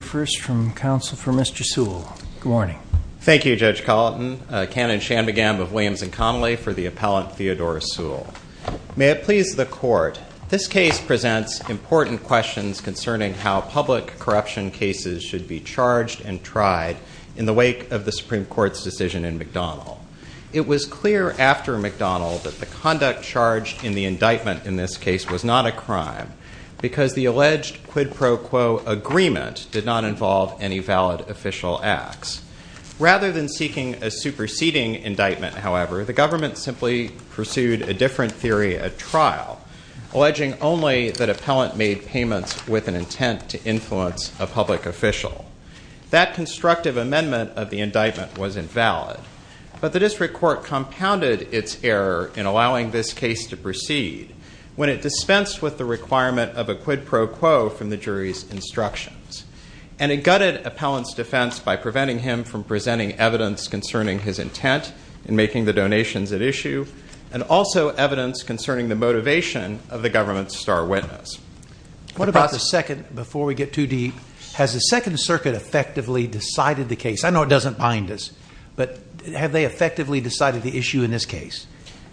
First from counsel for Mr. Suhl. Good morning. Thank you, Judge Colleton. Canon Shanmugam of Williams and Connolly for the appellant Theodore Suhl. May it please the court. This case presents important questions concerning how public corruption cases should be charged and tried in the wake of the Supreme Court's decision in McDonald. It was clear after McDonald that the conduct charged in the indictment in this case was not a crime because the alleged quid pro quo agreement did not involve any valid official acts. Rather than seeking a superseding indictment, however, the government simply pursued a different theory at trial, alleging only that appellant made payments with an intent to influence a public official. That constructive amendment of the indictment was invalid, but the district court compounded its error in allowing this case to proceed when it dispensed with the requirement of a quid pro quo from the jury's instructions. And it gutted appellant's defense by preventing him from presenting evidence concerning his intent in making the donations at issue, and also evidence concerning the motivation of the government's star witness. What about the second, before we get too deep, has the Second Circuit effectively decided the case? I know it doesn't bind us, but have they effectively decided the issue in this case,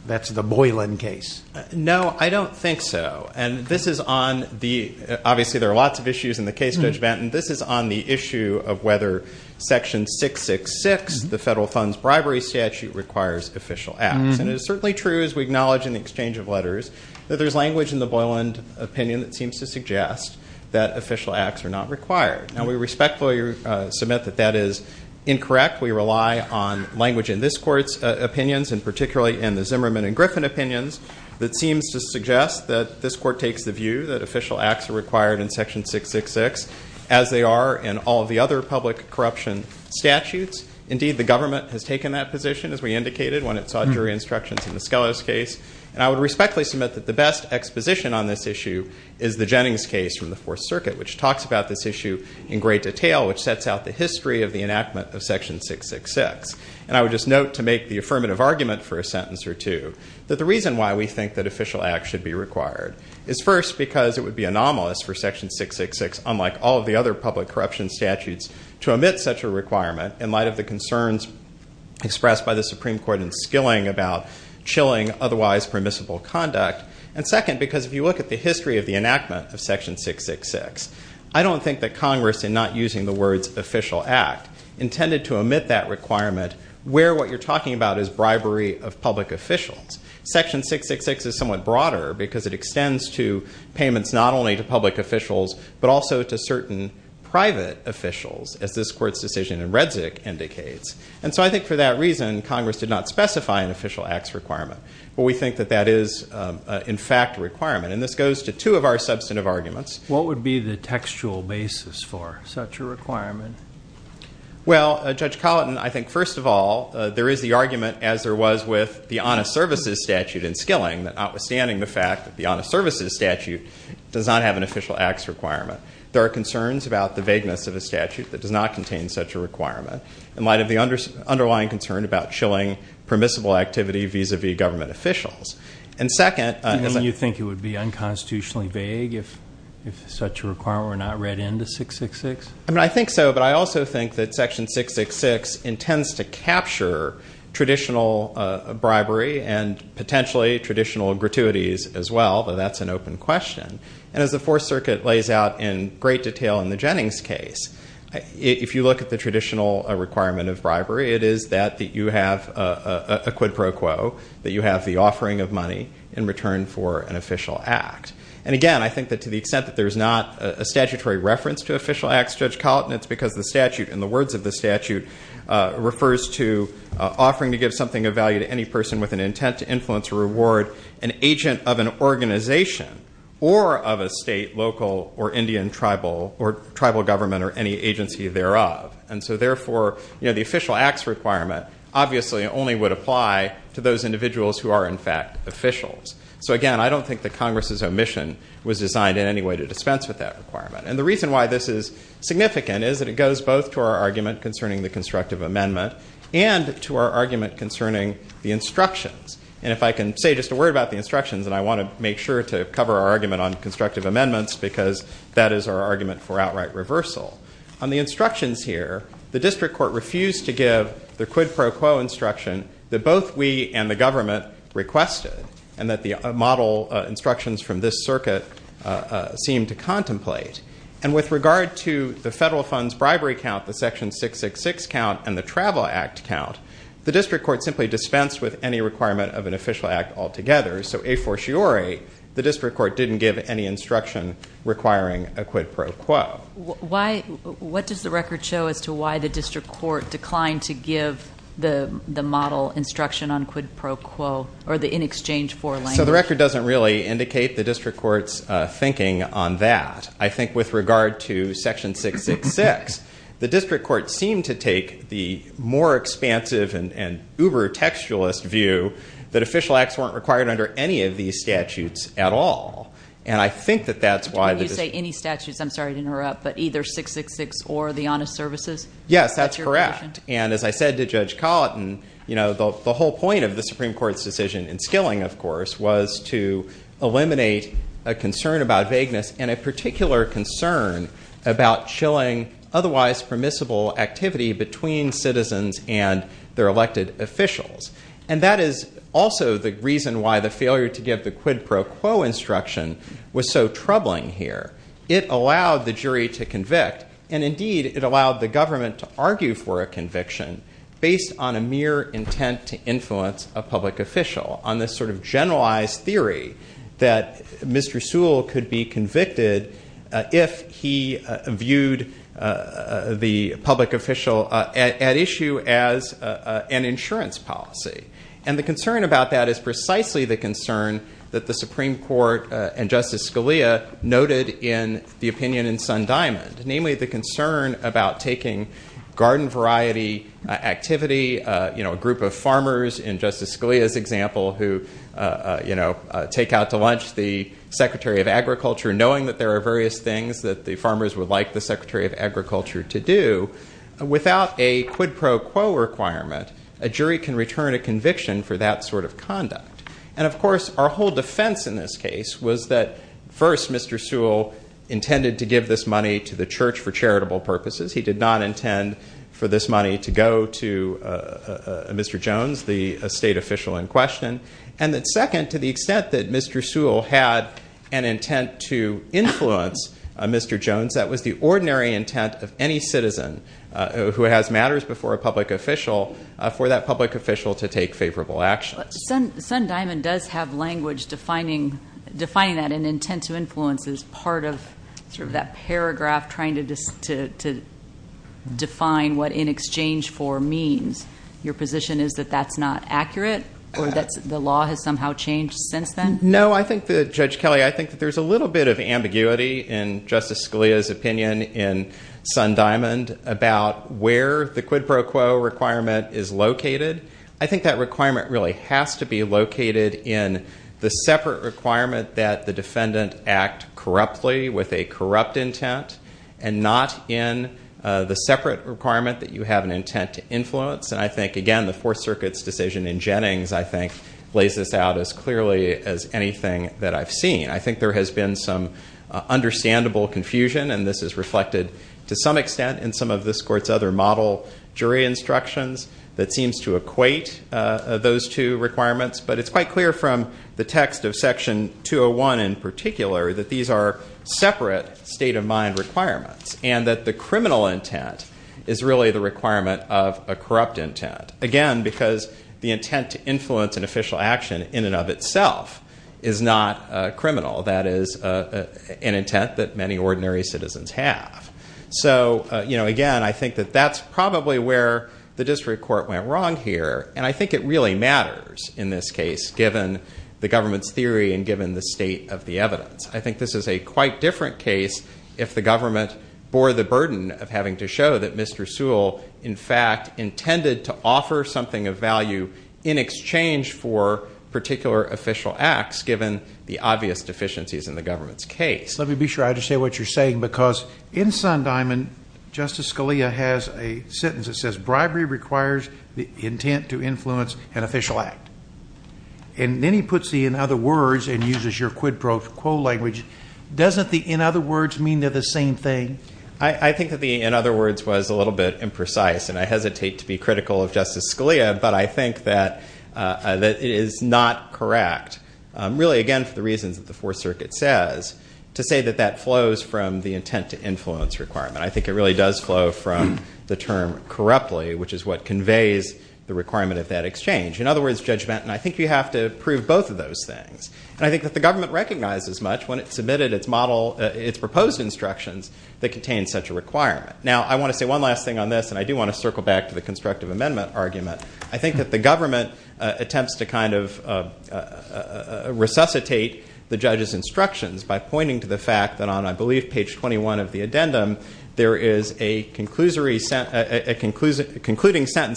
that's the Boylan case? No, I don't think so. And this is on the, obviously there are lots of issues in the case, Judge Benton. This is on the issue of whether Section 666, the federal funds bribery statute, requires official acts. And it is certainly true, as we acknowledge in the exchange of letters, that there's language in the Boylan opinion that seems to suggest that official acts are not required. Now, we respectfully submit that that is incorrect. We rely on language in this court's opinions, and particularly in the Zimmerman and Griffin opinions, that seems to suggest that this court takes the view that official acts are required in Section 666, as they are in all of the other public corruption statutes. Indeed, the government has taken that position, as we indicated, when it sought jury instructions in the Skelos case. And I would respectfully submit that the best exposition on this issue is the Jennings case from the Fourth Circuit, which talks about this issue in great detail, which sets out the history of the enactment of Section 666. And I would just note, to make the affirmative argument for a sentence or two, that the reason why we think that official acts should be required is, first, because it would be anomalous for Section 666, unlike all of the other public corruption statutes, to omit such a requirement in light of the concerns expressed by the Supreme Court in Skilling about chilling otherwise permissible conduct. And second, because if you look at the history of the enactment of Section 666, I don't think that Congress, in not using the words official act, intended to omit that requirement where what you're talking about is bribery of public officials. Section 666 is somewhat broader, because it extends to payments not only to public officials, but also to certain private officials, as this court's decision in Redzic indicates. And so I think for that reason, Congress did not specify an official acts requirement. But we think that that is, in fact, a requirement. And this goes to two of our substantive arguments. What would be the textual basis for such a requirement? Well, Judge Colleton, I think, first of all, there is the argument, as there was with the honest services statute in Skilling, that notwithstanding the fact that the honest services statute does not have an official acts requirement, there are concerns about the vagueness of a statute that does not contain such a requirement in light of the underlying concern about shilling permissible activity vis-a-vis government officials. And second, You think it would be unconstitutionally vague if such a requirement were not read into 666? I think so, but I also think that Section 666 intends to capture traditional bribery and potentially traditional gratuities as well, though that's an open question. And as the Fourth Circuit lays out in great detail in the Jennings case, if you look at the traditional requirement of bribery, it is that you have a quid pro quo, that you have the offering of money in return for an official act. And again, I think that to the extent that there's not a statutory reference to official acts, Judge Colleton, it's because the statute, in the words of the statute, refers to offering to give something of value to any person with an intent to influence or reward an agent of an organization or of a state, local, or Indian tribal, or tribal government, or any agency thereof. And so therefore, the official acts requirement obviously only would apply to those individuals who are, in fact, officials. So again, I don't think that Congress's omission was designed in any way to dispense with that requirement. And the reason why this is significant is that it goes both to our argument concerning the constructive amendment and to our argument concerning the instructions. And if I can say just a word about the instructions, and I want to make sure to cover our argument on this, because that is our argument for outright reversal. On the instructions here, the district court refused to give the quid pro quo instruction that both we and the government requested, and that the model instructions from this circuit seemed to contemplate. And with regard to the federal funds bribery count, the Section 666 count, and the Travel Act count, the district court simply dispensed with any requirement of an official act altogether. So a fortiori, the district court didn't give any instruction requiring a quid pro quo. Why, what does the record show as to why the district court declined to give the model instruction on quid pro quo, or the in exchange for language? So the record doesn't really indicate the district court's thinking on that. I think with regard to Section 666, the district court seemed to take the more expansive and uber-textualist view that official acts weren't required under any of these statutes at all. And I think that that's why the district court- When you say any statutes, I'm sorry to interrupt, but either 666 or the honest services? Yes, that's correct. And as I said to Judge Colleton, the whole point of the Supreme Court's decision in skilling, of course, was to eliminate a concern about vagueness, and a particular concern about chilling otherwise permissible activity between citizens and their also the reason why the failure to give the quid pro quo instruction was so troubling here. It allowed the jury to convict, and indeed, it allowed the government to argue for a conviction based on a mere intent to influence a public official on this sort of generalized theory that Mr. Sewell could be convicted if he viewed the public official at issue as an insurance policy. And the concern about that is precisely the concern that the Supreme Court and Justice Scalia noted in the opinion in Sundiamond, namely the concern about taking garden variety activity, a group of farmers in Justice Scalia's example who take out to lunch the Secretary of Agriculture, knowing that there are various things that the farmers would like the Secretary of Agriculture to do, without a quid pro quo requirement, a jury can return a conviction for that sort of conduct. And of course, our whole defense in this case was that first, Mr. Sewell intended to give this money to the church for charitable purposes. He did not intend for this money to go to Mr. Jones, the state official in question. And that second, to the extent that Mr. Sewell had an intent to any citizen who has matters before a public official, for that public official to take favorable actions. Sundiamond does have language defining that an intent to influence as part of sort of that paragraph trying to define what in exchange for means. Your position is that that's not accurate or that the law has somehow changed since then? No, I think that Judge Kelly, I think there's a little bit of ambiguity in Justice Scalia's opinion in Sundiamond about where the quid pro quo requirement is located. I think that requirement really has to be located in the separate requirement that the defendant act corruptly with a corrupt intent and not in the separate requirement that you have an intent to influence. And I think, again, the Fourth Circuit's decision in Jennings, I think, lays this out as clearly as anything that I've seen. I think there has been some understandable confusion and this is reflected to some extent in some of this court's other model jury instructions that seems to equate those two requirements. But it's quite clear from the text of section 201 in particular that these are separate state of mind requirements and that the criminal intent is really the requirement of a corrupt intent. Again, because the intent to influence an official action in and of itself is not criminal. That is an intent that many ordinary citizens have. So, again, I think that that's probably where the district court went wrong here and I think it really matters in this case given the government's theory and given the state of the evidence. I think this is a quite different case if the government bore the burden of having to show that Mr. Sewell, in fact, given the obvious deficiencies in the government's case. Let me be sure I understand what you're saying because in Sundiaman, Justice Scalia has a sentence that says bribery requires the intent to influence an official act. And then he puts the in other words and uses your quid pro quo language. Doesn't the in other words mean they're the same thing? I think that the in other words was a little bit imprecise and I hesitate to be really again for the reasons that the fourth circuit says to say that that flows from the intent to influence requirement. I think it really does flow from the term corruptly, which is what conveys the requirement of that exchange. In other words, judgment and I think you have to prove both of those things. And I think that the government recognizes much when it submitted its model, its proposed instructions that contain such a requirement. Now, I want to say one last thing on this and I do want to circle back to the constructive amendment argument. I think that government attempts to kind of resuscitate the judge's instructions by pointing to the fact that on I believe page 21 of the addendum, there is a concluding sentence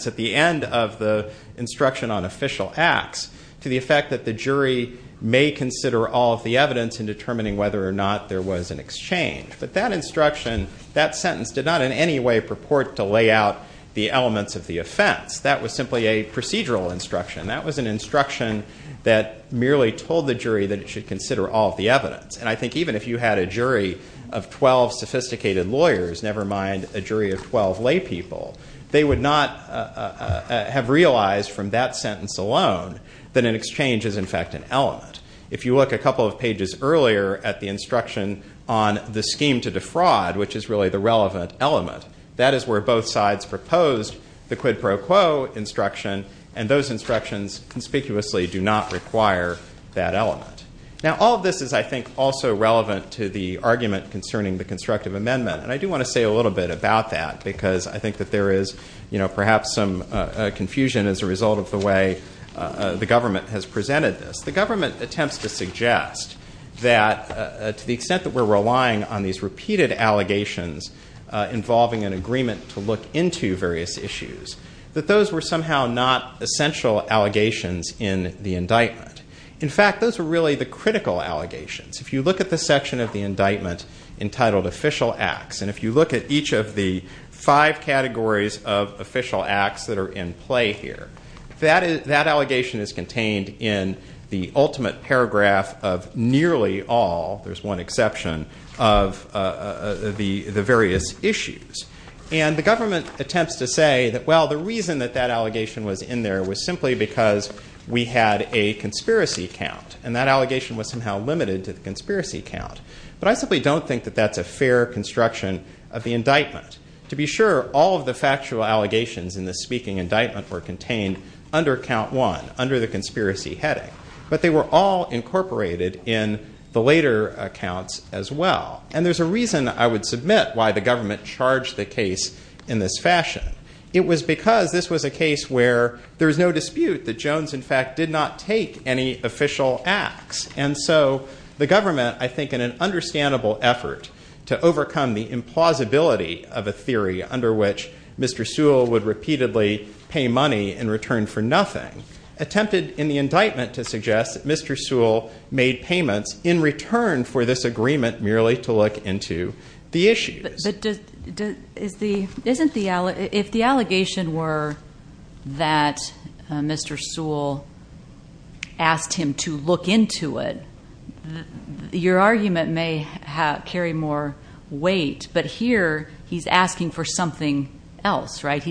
at the end of the instruction on official acts to the effect that the jury may consider all of the evidence in determining whether or not there was an exchange. But that instruction, that sentence did not in any way purport to lay out the elements of the offense. That was simply a procedural instruction. That was an instruction that merely told the jury that it should consider all of the evidence. And I think even if you had a jury of 12 sophisticated lawyers, never mind a jury of 12 lay people, they would not have realized from that sentence alone that an exchange is in fact an element. If you look a couple of pages earlier at the instruction on the scheme to defraud, which is really the relevant element, that is where both sides proposed the quid pro quo instruction and those instructions conspicuously do not require that element. Now all of this is I think also relevant to the argument concerning the constructive amendment and I do want to say a little bit about that because I think that there is you know perhaps some confusion as a result of the way the government has presented this. The government attempts to suggest that to the extent that we're relying on these repeated allegations involving an agreement to look into various issues, that those were somehow not essential allegations in the indictment. In fact, those are really the critical allegations. If you look at the section of the indictment entitled official acts and if you look at each of the five categories of official acts that are in play here, that allegation is contained in the ultimate paragraph of nearly all, there's one exception, of the various issues. And the government attempts to say that well the reason that that allegation was in there was simply because we had a conspiracy count and that allegation was somehow limited to the conspiracy count. But I simply don't think that that's a fair construction of the indictment. To be sure, all of the factual allegations in the speaking indictment were contained under count one, under the conspiracy heading. But they were all incorporated in the later accounts as well. And there's a reason I would submit why the government charged the case in this fashion. It was because this was a case where there was no dispute that Jones in fact did not take any official acts. And so the government, I think in an understandable effort to overcome the implausibility of a theory under which Mr. Sewell would repeatedly pay money in return for nothing, attempted in the indictment to suggest that Mr. Sewell made payments in return for this agreement merely to look into the issues. But if the allegation were that Mr. Sewell asked him to look into it, your argument may carry more weight. But here he's asking for something else, right?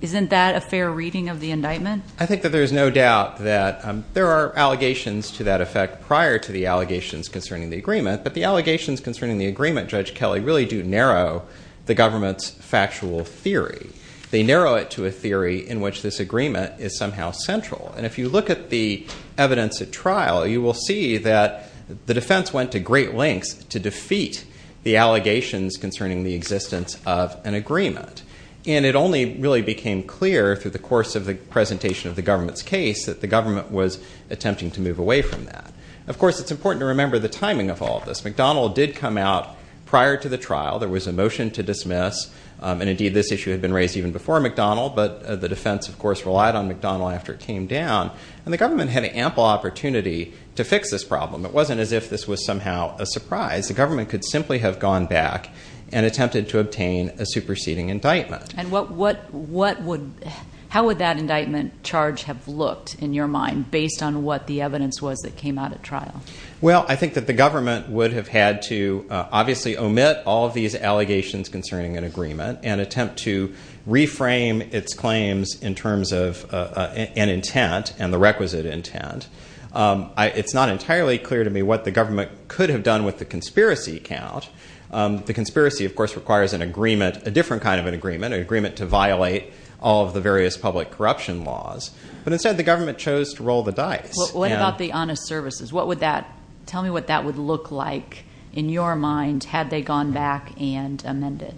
Isn't that a fair reading of the indictment? I think that there's no doubt that there are allegations to that effect prior to the allegations concerning the agreement, but the allegations concerning the agreement, Judge Kelly, really do narrow the government's factual theory. They narrow it to a theory in which this agreement is somehow central. And if you look at the evidence at trial, you will see that the defense went to great lengths to defeat the allegations concerning the existence of an agreement. And it only really became clear through the course of the presentation of the government's case that the government was attempting to move away from that. Of course, it's important to remember the timing of all of this. McDonnell did come out prior to the trial. There was a motion to dismiss, and indeed this issue had been raised even before McDonnell, but the defense, of course, relied on McDonnell after it came down. And the government had an ample opportunity to fix this The government could simply have gone back and attempted to obtain a superseding indictment. And how would that indictment charge have looked, in your mind, based on what the evidence was that came out at trial? Well, I think that the government would have had to obviously omit all of these allegations concerning an agreement and attempt to reframe its claims in terms of an intent and the requisite intent. It's not entirely clear to me what the government could have done with the conspiracy count. The conspiracy, of course, requires an agreement, a different kind of an agreement, an agreement to violate all of the various public corruption laws. But instead, the government chose to roll the dice. What about the honest services? Tell me what that would look like, in your mind, had they gone back and amended?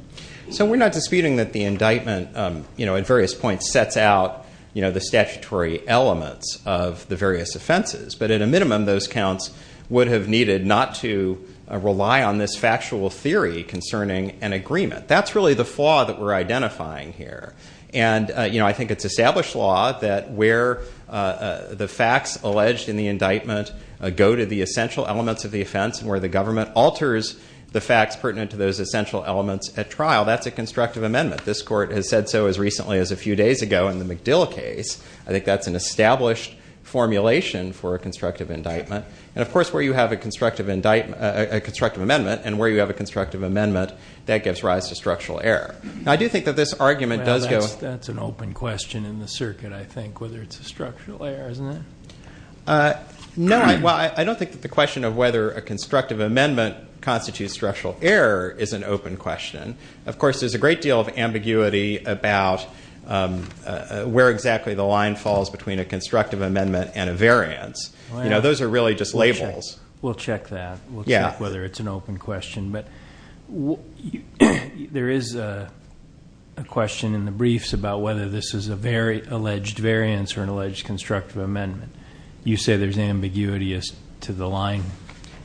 So we're not disputing that the indictment, at various points, sets out the statutory elements of the various offenses. But at a minimum, those counts would have needed not to rely on this factual theory concerning an agreement. That's really the flaw that we're identifying here. And I think it's established law that where the facts alleged in the indictment go to the essential elements of the offense and where the government alters the facts pertinent to those essential elements at trial, that's a constructive amendment. This court has said so as recently as a few days ago in the McDill case. I think that's an established formulation for a constructive indictment. And of course, where you have a constructive amendment and where you have a constructive amendment, that gives rise to structural error. Now, I do think that this argument does go- That's an open question in the circuit, I think, whether it's a structural error, isn't it? No. Well, I don't think that the question of whether a constructive amendment constitutes structural error is an open question. Of course, there's a great deal of ambiguity about where exactly the line falls between a constructive amendment and a variance. You know, those are really just labels. We'll check that. We'll check whether it's an open question. But there is a question in the briefs about whether this is a very alleged variance or an alleged constructive amendment. You say there's ambiguity as to the line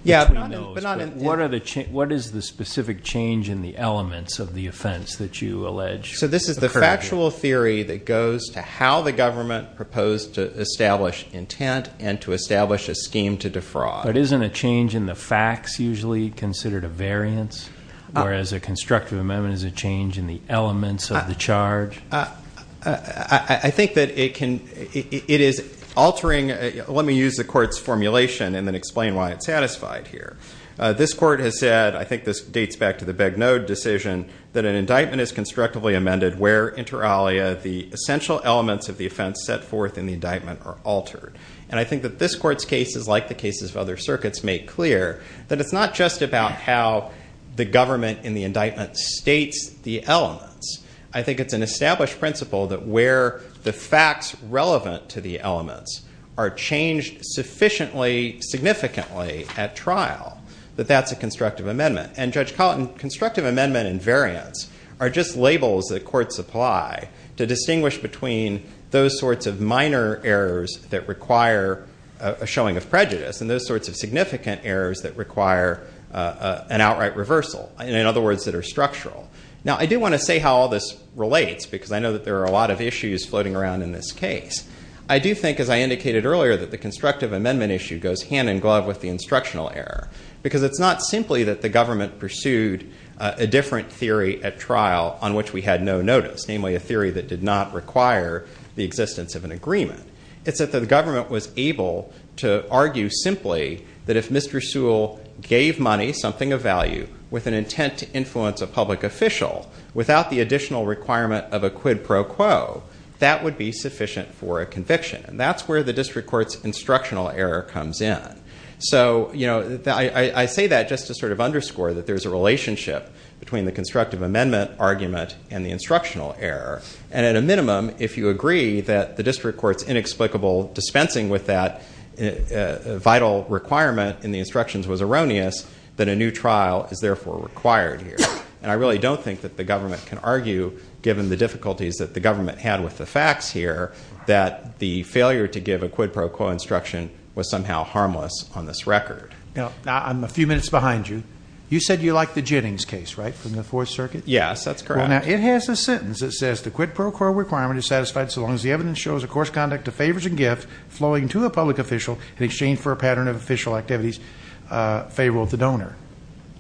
between those. But what is the specific change in the elements of the offense that you allege? So this is the factual theory that goes to how the government proposed to establish intent and to establish a scheme to defraud. But isn't a change in the facts usually considered a variance, whereas a constructive amendment is a change in the elements of the charge? I think that it is altering. Let me use the court's formulation and then explain why it's satisfied here. This court has said, I think this dates back to the Begnaud decision, that an element is constructively amended where inter alia the essential elements of the offense set forth in the indictment are altered. And I think that this court's cases, like the cases of other circuits, make clear that it's not just about how the government in the indictment states the elements. I think it's an established principle that where the facts relevant to the elements are changed sufficiently, significantly at trial, that that's a constructive amendment. And Judge labels that courts apply to distinguish between those sorts of minor errors that require a showing of prejudice and those sorts of significant errors that require an outright reversal. In other words, that are structural. Now I do want to say how all this relates, because I know that there are a lot of issues floating around in this case. I do think, as I indicated earlier, that the constructive amendment issue goes hand in glove with the instructional error. Because it's not simply that the government pursued a different theory at trial on which we had no notice, namely a theory that did not require the existence of an agreement. It's that the government was able to argue simply that if Mr. Sewell gave money, something of value, with an intent to influence a public official, without the additional requirement of a quid pro quo, that would be sufficient for a conviction. And that's where the district court's instructional error comes in. So I say that just to sort of underscore that there's a relationship between the constructive amendment argument and the instructional error. And at a minimum, if you agree that the district court's inexplicable dispensing with that vital requirement in the instructions was erroneous, then a new trial is therefore required here. And I really don't think that the government can argue, given the failure to give a quid pro quo instruction was somehow harmless on this record. Now, I'm a few minutes behind you. You said you like the Jennings case, right? From the Fourth Circuit? Yes, that's correct. Well, now, it has a sentence that says, the quid pro quo requirement is satisfied so long as the evidence shows a course conduct of favors and gifts flowing to a public official in exchange for a pattern of official activities favorable to the donor.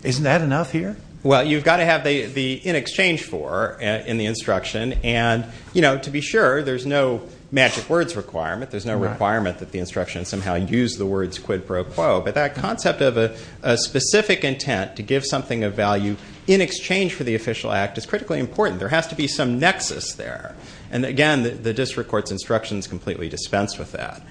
Isn't that enough here? Well, you've got to have the in exchange for in the instruction. And, you know, to be sure, there's no magic words requirement. There's no requirement that the instruction somehow use the words quid pro quo. But that concept of a specific intent to give something of value in exchange for the official act is critically important. There has to be some nexus there. And, again, the district court's instructions completely dispense with that.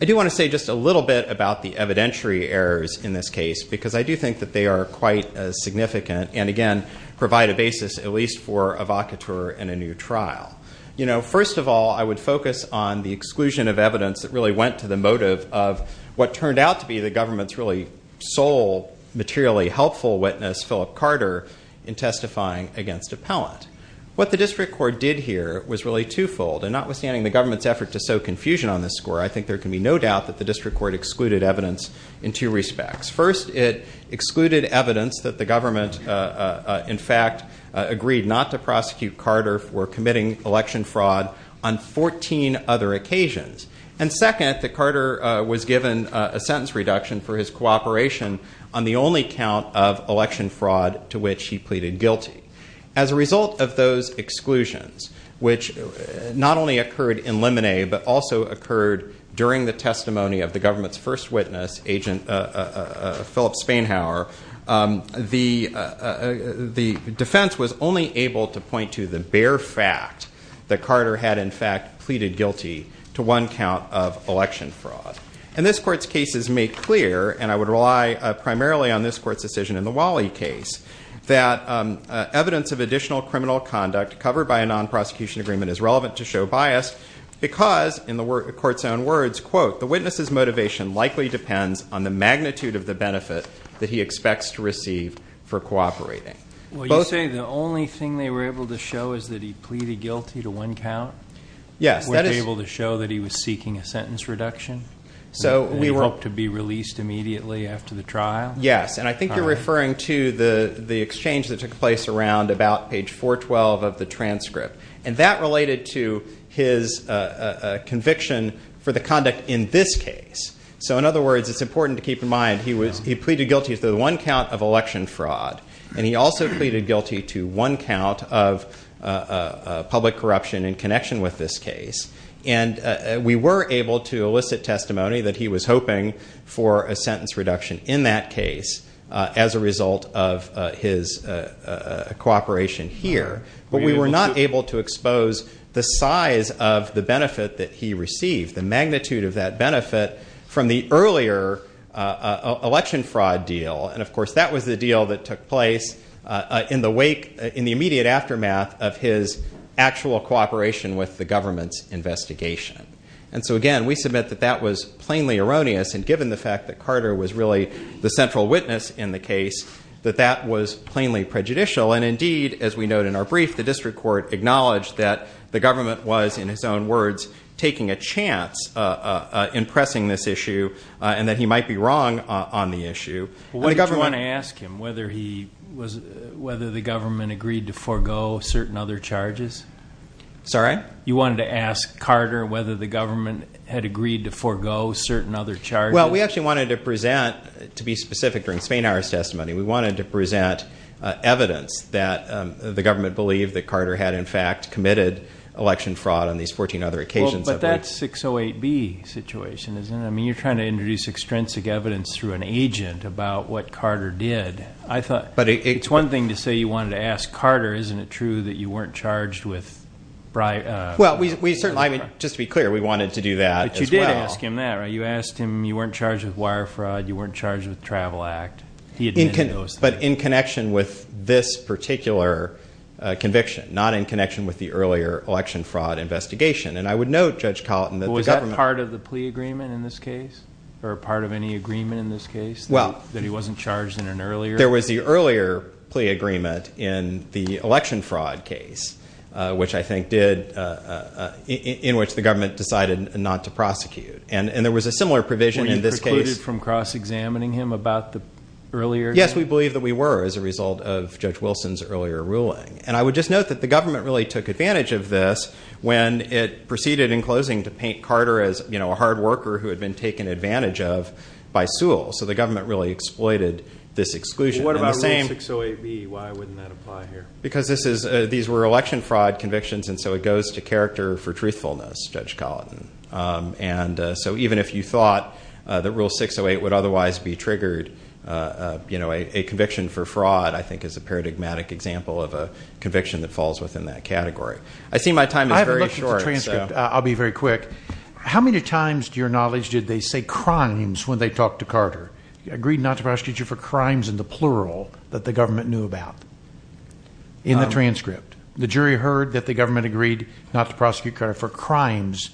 I do want to say just a little bit about the evidentiary errors in this case because I do think that they are quite significant and, again, provide a basis at least for evocateur in a new trial. You know, first of all, I would focus on the exclusion of evidence that really went to the motive of what turned out to be the government's really sole materially helpful witness, Philip Carter, in testifying against appellant. What the district court did here was really twofold. And notwithstanding the government's effort to sow confusion on this score, I think there can be no doubt that the district court excluded evidence in two respects. First, it excluded evidence that the government, in fact, agreed not to prosecute Carter for committing election fraud on 14 other occasions. And, second, that Carter was given a sentence reduction for his cooperation on the only count of election fraud to which he pleaded guilty. As a result of those exclusions, which not only occurred in limine, but also occurred during the testimony of the government's first witness, Philip Spainhower, the defense was only able to point to the bare fact that Carter had, in fact, pleaded guilty to one count of election fraud. And this court's case is made clear, and I would rely primarily on this court's decision in the Wally case, that evidence of additional criminal conduct covered by a non-prosecution agreement is relevant to show bias, because, in the court's own words, quote, the witness's motivation likely depends on the magnitude of the benefit that he expects to receive for cooperating. Well, you say the only thing they were able to show is that he pleaded guilty to one count? Yes. Were they able to show that he was seeking a sentence reduction, that he hoped to be released immediately after the trial? Yes. And I think you're referring to the exchange that took place around about page 412 of the transcript. And that related to his conviction for the conduct in this case. So, in other words, it's important to keep in mind he pleaded guilty to the one count of election fraud, and he also pleaded guilty to one count of public corruption in connection with this case. And we were able to elicit testimony that he was hoping for a sentence reduction in that case as a result of his cooperation here, but we were not able to expose the size of the benefit that he received, the magnitude of that benefit, from the earlier election fraud deal. And, of course, that was the deal that took place in the immediate aftermath of his actual cooperation with the government's investigation. And so, again, we submit that that was plainly the central witness in the case, that that was plainly prejudicial. And, indeed, as we note in our brief, the district court acknowledged that the government was, in his own words, taking a chance in pressing this issue, and that he might be wrong on the issue. Well, what did you want to ask him? Whether the government agreed to forego certain other charges? Sorry? You wanted to ask Carter whether the government had agreed to forego certain other Well, we actually wanted to present, to be specific, during Spain hour's testimony, we wanted to present evidence that the government believed that Carter had, in fact, committed election fraud on these 14 other occasions. Well, but that's 608B situation, isn't it? I mean, you're trying to introduce extrinsic evidence through an agent about what Carter did. I thought it's one thing to say you wanted to ask Carter, isn't it true that you weren't charged with bribery? Well, we certainly, I mean, just to be clear, we wanted to do that as well. But you did ask him that, right? You asked him you weren't charged with wire fraud, you weren't charged with travel act, he admitted those things. But in connection with this particular conviction, not in connection with the earlier election fraud investigation, and I would note, Judge Colleton, that the government- Was that part of the plea agreement in this case? Or part of any agreement in this case? Well- That he wasn't charged in an earlier- There was the earlier plea agreement in the election fraud case, which I think did- in which the government decided not to prosecute. And there was a similar provision in this case- Were you precluded from cross-examining him about the earlier- Yes, we believe that we were as a result of Judge Wilson's earlier ruling. And I would just note that the government really took advantage of this when it proceeded in closing to paint Carter as a hard worker who had been taken advantage of by Sewell. So the government really exploited this exclusion. What about Rule 608B? Why wouldn't that apply here? Because these were election fraud convictions, and so it goes to character for truthfulness, Judge Colleton. And so even if you thought that Rule 608 would otherwise be triggered, a conviction for fraud, I think, is a paradigmatic example of a conviction that falls within that category. I see my time is very short. I haven't looked at the transcript. I'll be very quick. How many times, to your knowledge, did they say crimes when they talked to Carter? You agreed not to prosecute for crimes in the plural that the government knew about in the transcript. The jury heard that the government agreed not to prosecute Carter for crimes,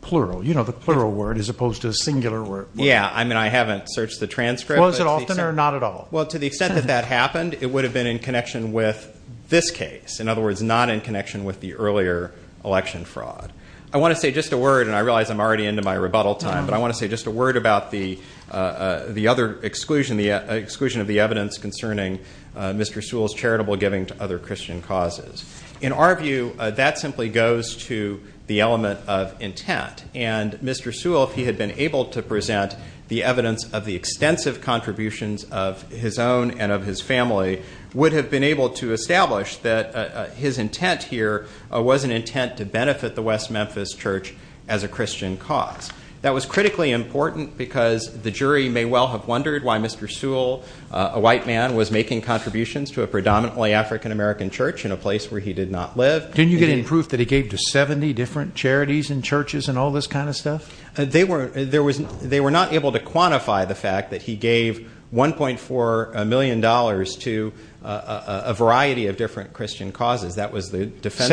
plural. You know, the plural word as opposed to the singular word. Yeah. I mean, I haven't searched the transcript. Was it often or not at all? Well, to the extent that that happened, it would have been in connection with this case. In other words, not in connection with the earlier election fraud. I want to say just a word about the other exclusion, the exclusion of the evidence concerning Mr. Sewell's charitable giving to other Christian causes. In our view, that simply goes to the element of intent. And Mr. Sewell, if he had been able to present the evidence of the extensive contributions of his own and of his family, would have been able to establish that his intent here was an intent to benefit the West Memphis Church as a Christian cause. That was critically important because the jury may well have wondered why Mr. Sewell, a white man, was making contributions to a predominantly African American church in a place where he did not live. Didn't you get any proof that he gave to 70 different charities and churches and all this kind of stuff? They were not able to quantify the fact that he gave $1.4 million to a variety of different Christian causes. That was the defense.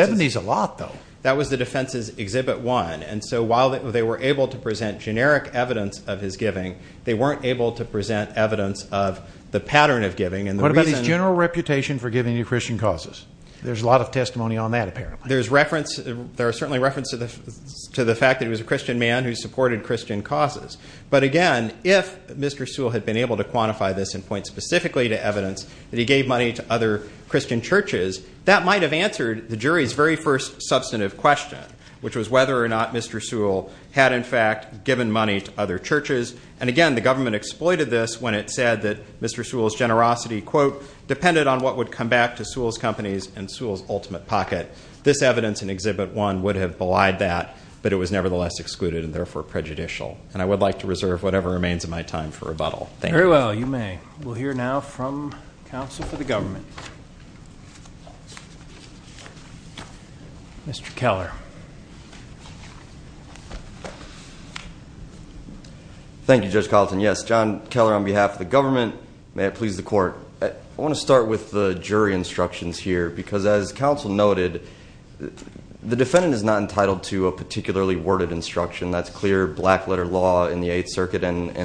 That was the defense's Exhibit 1. And so while they were able to present generic evidence of his giving, they weren't able to present evidence of the pattern of giving. What about his general reputation for giving to Christian causes? There's a lot of testimony on that apparently. There's reference, there are certainly references to the fact that he was a Christian man who supported Christian causes. But again, if Mr. Sewell had been able to quantify this and point specifically to evidence that he gave money to other Christian churches, that might have answered the jury's very first substantive question, which was whether or not Mr. Sewell had in fact given money to other churches. And again, the government exploited this when it said that Mr. Sewell's generosity, quote, depended on what would come back to Sewell's companies and Sewell's ultimate pocket. This evidence in Exhibit 1 would have belied that, but it was nevertheless excluded and therefore prejudicial. And I would like to reserve whatever remains of my time for rebuttal. Very well, you may. We'll hear now from counsel for the government. Mr. Keller. Thank you, Judge Carlton. Yes, John Keller on behalf of the government. May it please the court. I want to start with the jury instructions here, because as counsel noted, the defendant is not entitled to a particularly worded instruction. That's clear black letter law in the Eighth Amendment,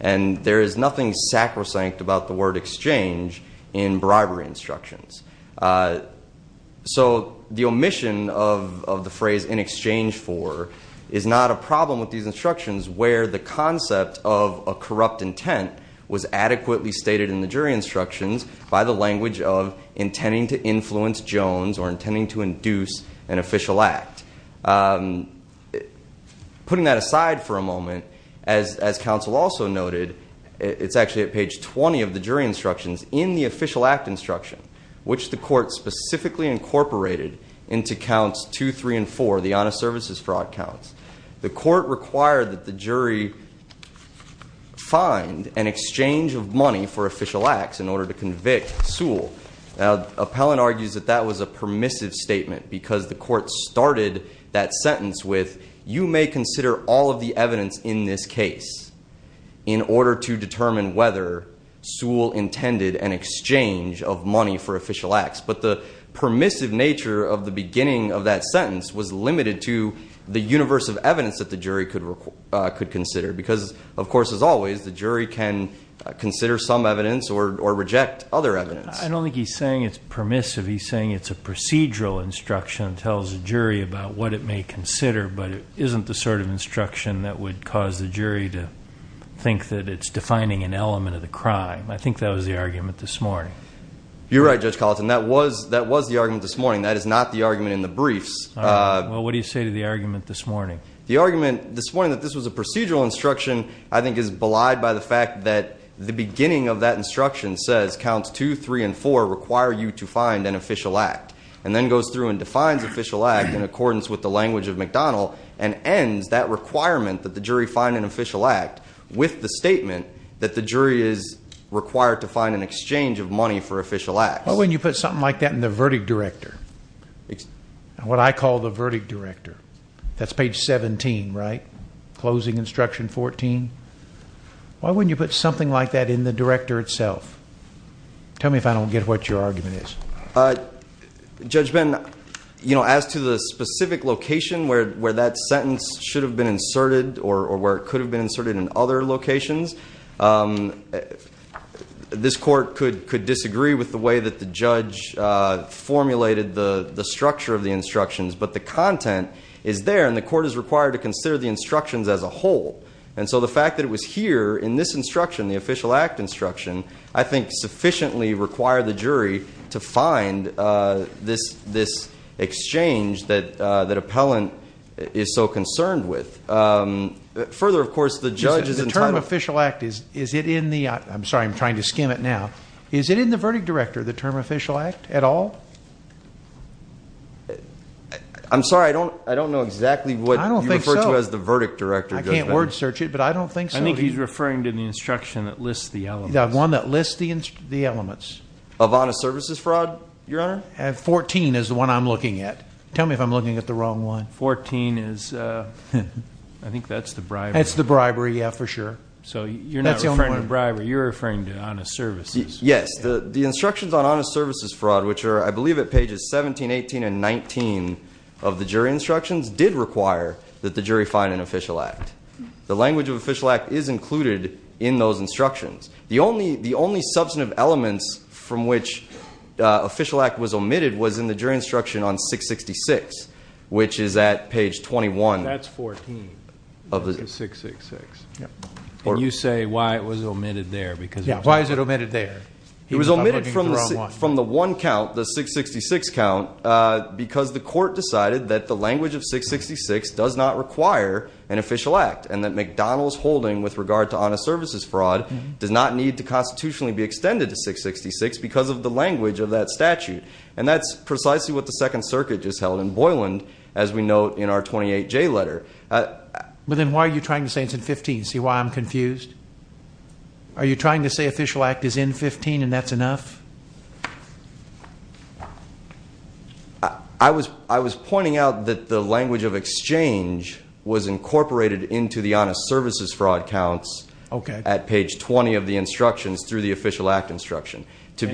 and there is nothing sacrosanct about the word exchange in bribery instructions. So the omission of the phrase in exchange for is not a problem with these instructions, where the concept of a corrupt intent was adequately stated in the jury instructions by the language of intending to influence Jones or intending to induce an official act. Putting that aside for a moment, as counsel also noted, it's actually at page 20 of the jury instructions in the official act instruction, which the court specifically incorporated into counts two, three, and four, the honest services fraud counts. The court required that the jury find an exchange of money for official acts in order to convict Sewell. Now, the appellant argues that that was a permissive statement because the court started that sentence with you may consider all of the evidence in this case in order to determine whether Sewell intended an exchange of money for official acts. But the permissive nature of the beginning of that sentence was limited to the universe of evidence that the jury could could consider, because, of course, as always, the jury can consider some evidence or reject other evidence. I don't think he's saying it's permissive. He's saying it's a procedural instruction that tells the jury about what it may consider, but it isn't the sort of instruction that would cause the jury to think that it's defining an element of the crime. I think that was the argument this morning. You're right, Judge Colleton. That was that was the argument this morning. That is not the argument in the briefs. Well, what do you say to the argument this morning? The argument this morning that this was a procedural instruction, I think, is belied by the fact that the beginning of that instruction says counts two, three, and four require you to find an official act, and then goes through and defines official act in accordance with the language of McDonald and ends that requirement that the jury find an official act with the statement that the jury is required to find an exchange of money for official acts. Why wouldn't you put something like that in the verdict director? What I call the verdict director. That's page 17, right? Closing instruction 14. Why wouldn't you put something like that in the director itself? Tell me if I don't get what your argument is. Judge Ben, as to the specific location where that sentence should have been inserted or where it could have been inserted in other locations, this court could disagree with the way that the judge formulated the structure of the instructions, but the content is there, and the court is required to consider the instructions as a whole. And so the fact that it was here in this instruction, the official act instruction, I think sufficiently required the jury to find this exchange that appellant is so concerned with. Further, of course, the judge is entitled... The term official act, is it in the... I'm sorry, I'm trying to skim it now. Is it in the verdict director, the term official act at all? I'm sorry, I don't know exactly what you refer to as the verdict director, Judge Ben. I can't word search it, but I don't think so. I think he's referring to the instruction that lists the elements. The one that lists the elements. Of honest services fraud, Your Honor? 14 is the one I'm looking at. Tell me if I'm looking at the wrong one. 14 is... I think that's the bribery. That's the bribery, yeah, for sure. So you're not referring to bribery, you're referring to honest services. Yes, the instructions on honest services fraud, which I believe at pages 17, 18, and 19 of the jury instructions did require that the jury find an official act. The language of official act is included in those instructions. The only substantive elements from which official act was omitted was in the jury instruction on 666, which is at page 21. That's 14. Of the 666. And you say why it was omitted there, because... Yeah, why is it omitted there? It was omitted from the one count, the 666 count, because the court decided that the language of 666 does not require an official act and that McDonald's holding with regard to honest services fraud does not need to constitutionally be extended to 666 because of the language of that statute. And that's precisely what the Second Circuit just held in Boyland, as we note in our 28J letter. But then why are you trying to say it's in 15? See why I'm confused? Are you trying to say official act is in 15 and that's enough? I was pointing out that the language of exchange was incorporated into the honest services fraud counts at page 20 of the instructions through the official act instruction. And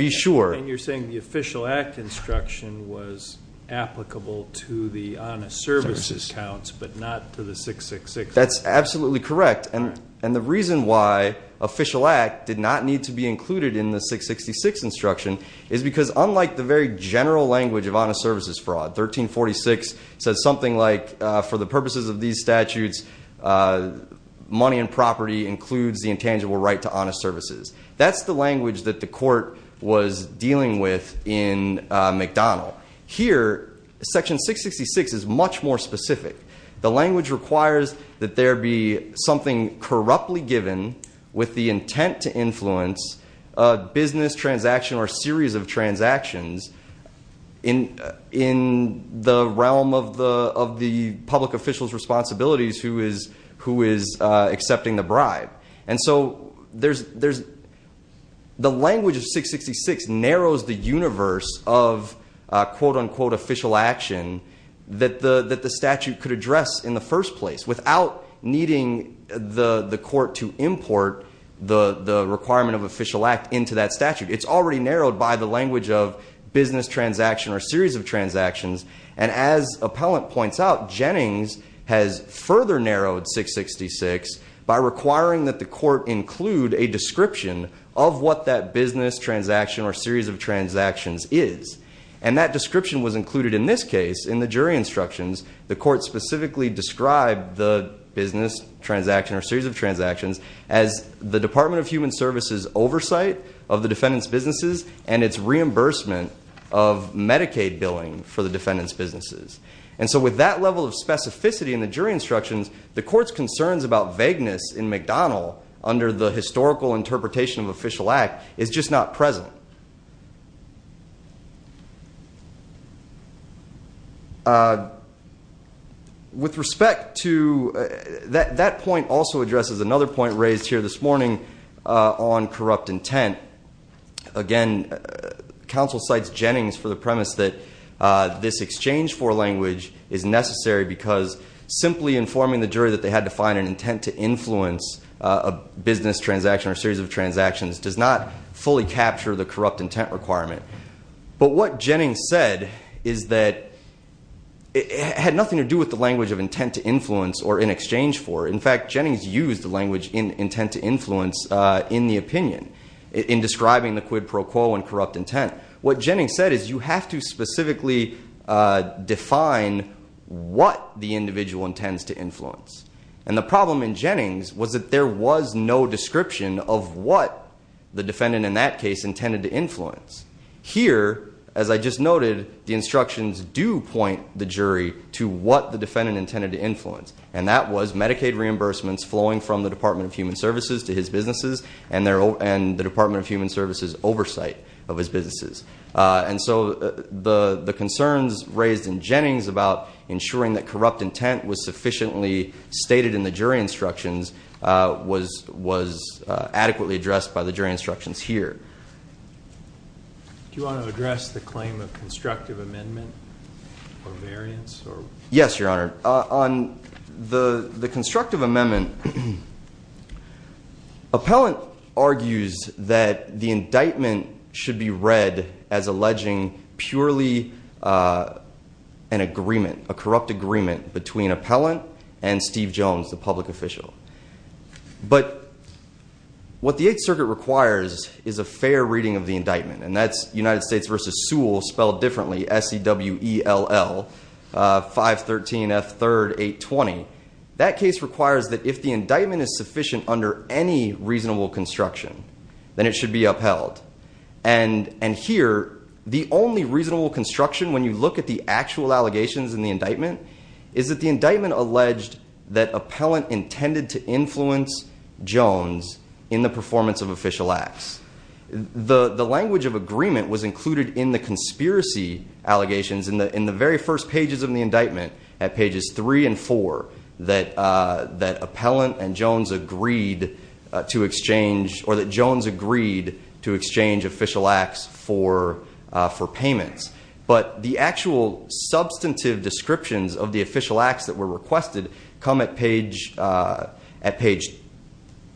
you're saying the official act instruction was applicable to the honest services counts, but not to the 666? That's absolutely correct. And the reason why it does not need to be included in the 666 instruction is because unlike the very general language of honest services fraud, 1346 says something like, for the purposes of these statutes, money and property includes the intangible right to honest services. That's the language that the court was dealing with in McDonald. Here, section 666 is much more specific. The language requires that there be something corruptly given with the intent to influence a business transaction or series of transactions in the realm of the public official's responsibilities who is accepting the bribe. And so the language of 666 narrows the universe of quote unquote official action that the statute could address in the first place without needing the court to import the requirement of official act into that statute. It's already narrowed by the language of business transaction or series of transactions. And as appellant points out, Jennings has further narrowed 666 by requiring that the court include a description of what that business transaction or in the jury instructions, the court specifically described the business transaction or series of transactions as the Department of Human Services' oversight of the defendant's businesses and its reimbursement of Medicaid billing for the defendant's businesses. And so with that level of specificity in the jury instructions, the court's concerns about vagueness in McDonald under the historical interpretation of official act is just not present. With respect to that point also addresses another point raised here this morning on corrupt intent. Again, counsel cites Jennings for the premise that this exchange for language is necessary because simply informing the jury that they had to find an intent to influence a business transaction or series of transactions does not fully capture the corrupt intent requirement. But what Jennings said is that it had nothing to do with the language of intent to influence or in exchange for. In fact, Jennings used the language in intent to influence in the opinion in describing the quid pro quo and corrupt intent. What Jennings said is you have to specifically define what the individual intends to influence. And the problem in Jennings was that was no description of what the defendant in that case intended to influence. Here, as I just noted, the instructions do point the jury to what the defendant intended to influence. And that was Medicaid reimbursements flowing from the Department of Human Services to his businesses and the Department of Human Services' oversight of his businesses. And so the concerns raised in Jennings about ensuring that corrupt intent was sufficiently stated in the jury instructions was adequately addressed by the jury instructions here. Do you want to address the claim of constructive amendment or variance? Yes, your honor. On the constructive amendment, appellant argues that the indictment should be read as alleging purely an agreement, a corrupt agreement, between appellant and Steve Jones, the public official. But what the Eighth Circuit requires is a fair reading of the indictment. And that's indictment is sufficient under any reasonable construction, then it should be upheld. And here, the only reasonable construction, when you look at the actual allegations in the indictment, is that the indictment alleged that appellant intended to influence Jones in the performance of official acts. The language of agreement was included in the conspiracy allegations in the very first pages of the indictment, at pages three and four, that appellant and Jones agreed to exchange, or that Jones agreed to exchange official acts for payments. But the actual substantive descriptions of the official acts that were requested come at page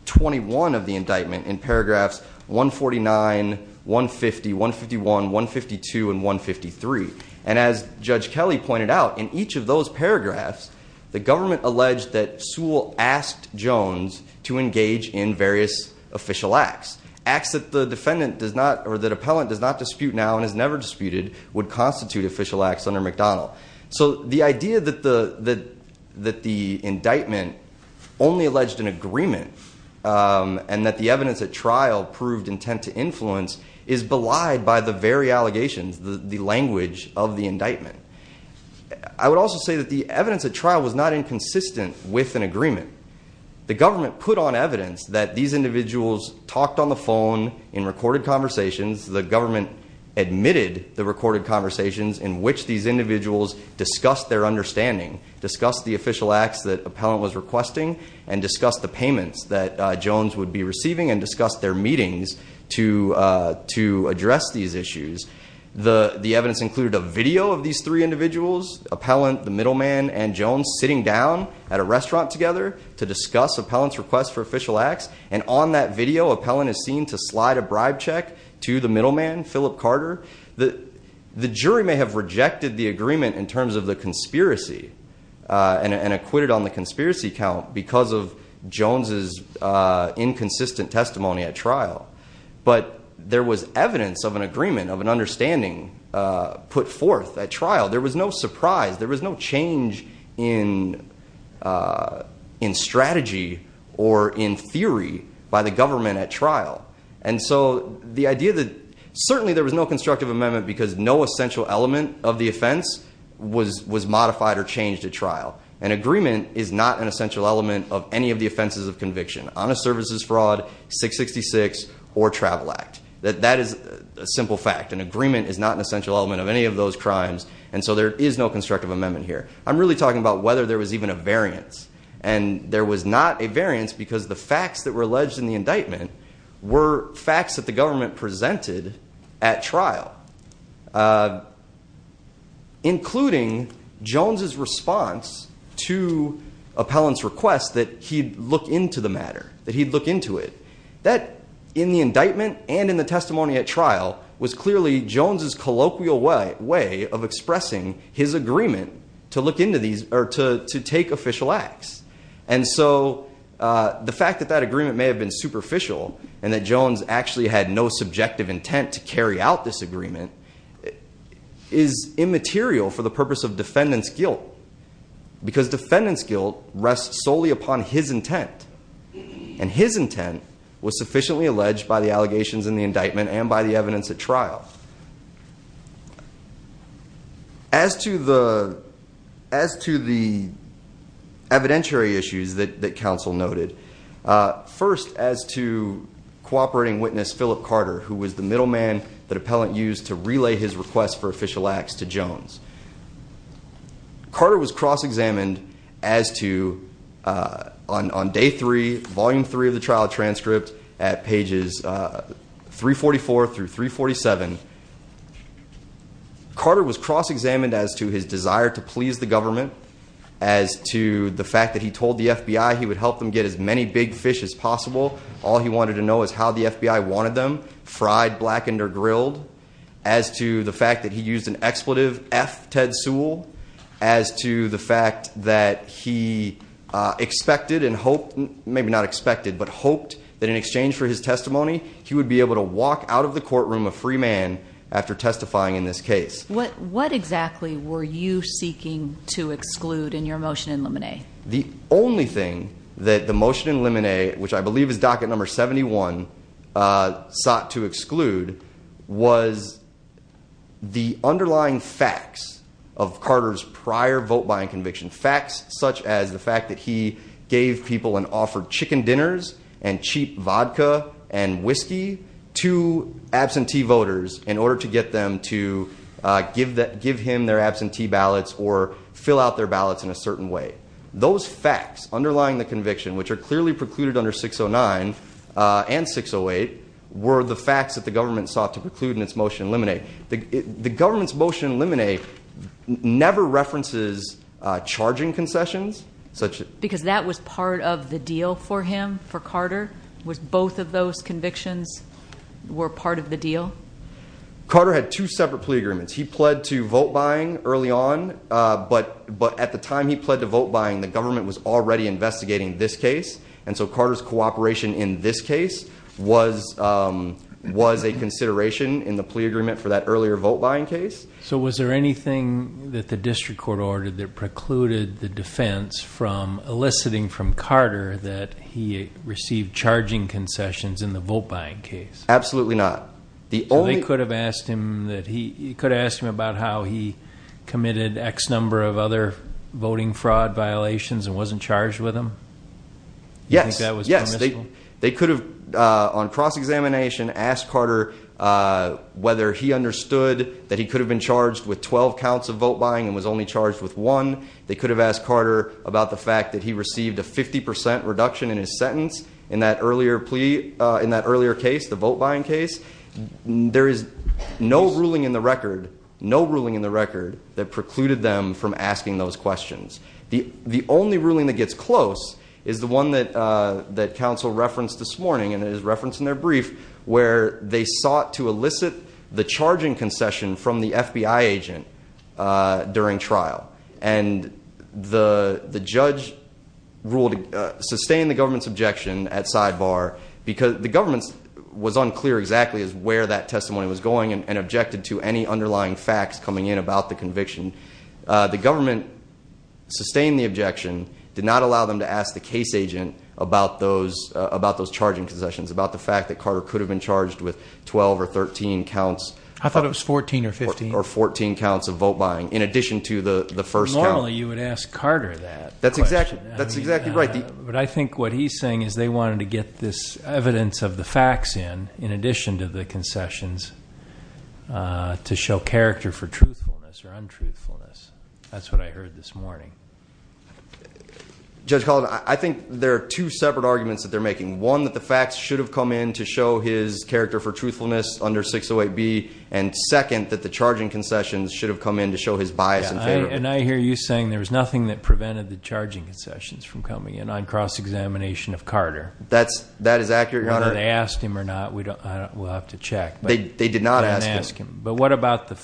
21 of the indictment, in paragraphs 149, 150, 151, 152, and 153. And as Judge Kelly pointed out, in each of those paragraphs, the government alleged that Sewell asked Jones to engage in various official acts. Acts that the defendant does not, or that appellant does not dispute now and has never disputed, would constitute official acts under McDonnell. So the idea that the indictment only alleged an agreement, and that the evidence at trial proved intent to influence, is belied by the very allegations, the language of the indictment. I would also say that the evidence at trial was not inconsistent with an agreement. The government put on evidence that these individuals talked on the phone in recorded conversations. The government admitted the recorded conversations in which these individuals discussed their understanding, discussed the official acts that appellant was requesting, and discussed the payments that Jones would be receiving, and discussed their meetings to address these issues. The evidence included a video of these three individuals, appellant, the middleman, and Jones, sitting down at a restaurant together to discuss appellant's request for official acts. And on that video, appellant is seen to slide a bribe check to the middleman, Philip Carter. The jury may have rejected the agreement in terms of the conspiracy, and acquitted on the conspiracy count because of Jones's inconsistent testimony at trial. But there was evidence of an agreement, of an understanding put forth at trial. There was no surprise. There was no change in strategy, or in theory, by the government at trial. And so the idea that certainly there was no constructive amendment because no essential element of the offense was modified or changed at trial. An agreement is not an essential element of any of the offenses of conviction, honest services fraud, 666, or travel act. That is a simple fact. An agreement is not an essential element of any of those crimes. And so there is no constructive amendment here. I'm really talking about whether there was even a variance. And there was not a variance because the facts that were alleged in the indictment were facts that the government presented at trial. Including Jones's response to appellant's request that he'd look into the matter, that he'd look into it. That, in the indictment and in the testimony at trial, was clearly Jones's colloquial way of expressing his agreement to look into these, or to take official acts. And so the fact that that agreement may have been superficial, and that Jones actually had no subjective intent to carry out this agreement, is immaterial for the purpose of defendant's guilt. Because defendant's guilt rests solely upon his intent. And his intent was sufficiently alleged by the allegations in the indictment and by the evidence at trial. As to the evidentiary issues that counsel noted, first, as to cooperating witness Philip Carter, who was the middleman that appellant used to relay his request for official acts to Jones. Carter was cross-examined as to, on day three, volume three of the trial transcript, at pages 344 through 347. Carter was cross-examined as to his desire to please the government, as to the fact that he told the FBI he would help them get as many big fish as possible. All he wanted to know is how the FBI wanted them, fried, blackened, or grilled. As to the fact that he used an expletive F, Ted Sewell. As to the fact that he expected and hoped, maybe not expected, but hoped that in exchange for his testimony, he would be able to walk out of the courtroom a free man after testifying in this case. What exactly were you seeking to exclude in your motion in Lemonade? The only thing that the motion in Lemonade, which I believe is docket number 71, sought to exclude was the underlying facts of Carter's prior vote-buying conviction. Facts such as the fact that he gave people and offered chicken dinners and cheap vodka and whiskey to absentee voters in order to get them to give him their absentee ballots or fill out their ballots in a certain way. Those facts underlying the conviction, which are clearly precluded under 609 and 608, were the facts that the government sought to preclude in its motion in Lemonade. The government's motion in Lemonade never references charging concessions. Because that was part of the deal for him, for Carter? Both of those convictions were part of the deal? Carter had two separate plea agreements. He pled to vote-buying early on, but at the time he pled to vote-buying, the government was already investigating this case. And so Carter's cooperation in this case was a consideration in the plea agreement for that earlier vote-buying case. So was there anything that the district court ordered that precluded the defense from eliciting from Carter that he received charging concessions in the vote-buying case? Absolutely not. So they could have asked him about how he committed X number of other voting fraud violations and wasn't charged with them? Yes. They could have, on cross-examination, asked Carter whether he understood that he could have been charged with 12 counts of vote-buying and was only charged with one. They could have asked Carter about the fact that he received a 50 percent reduction in his sentence in that earlier plea, in that earlier case, the vote-buying case. There is no ruling in the record, no ruling in the record that precluded them from asking those questions. The only ruling that gets close is the one that counsel referenced this morning, and it is referenced in their brief, where they sought to elicit the charging concession from the FBI agent during trial. And the judge ruled to sustain the government's objection at sidebar because the government was unclear exactly where that testimony was going and objected to any sustained the objection, did not allow them to ask the case agent about those charging concessions, about the fact that Carter could have been charged with 12 or 13 counts. I thought it was 14 or 15. Or 14 counts of vote-buying in addition to the first count. Normally you would ask Carter that. That's exactly right. But I think what he's saying is they wanted to get this evidence of the facts in, in addition to the concessions, to show character for truthfulness or untruthfulness. That's what I heard this morning. Judge Caldwell, I think there are two separate arguments that they're making. One, that the facts should have come in to show his character for truthfulness under 608B. And second, that the charging concessions should have come in to show his bias and favor. And I hear you saying there was nothing that prevented the charging concessions from coming in on cross-examination of Carter. That's, that is accurate, your honor. Whether they asked him or not, we don't, we'll have to check. They did not ask him. But what about the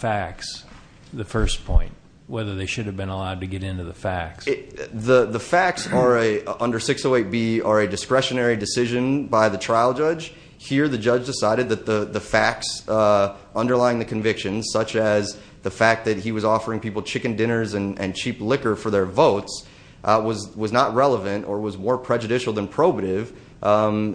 first point? Whether they should have been allowed to get into the facts? The, the facts are a, under 608B, are a discretionary decision by the trial judge. Here the judge decided that the, the facts underlying the convictions, such as the fact that he was offering people chicken dinners and, and cheap liquor for their votes, was, was not relevant or was more prejudicial than probative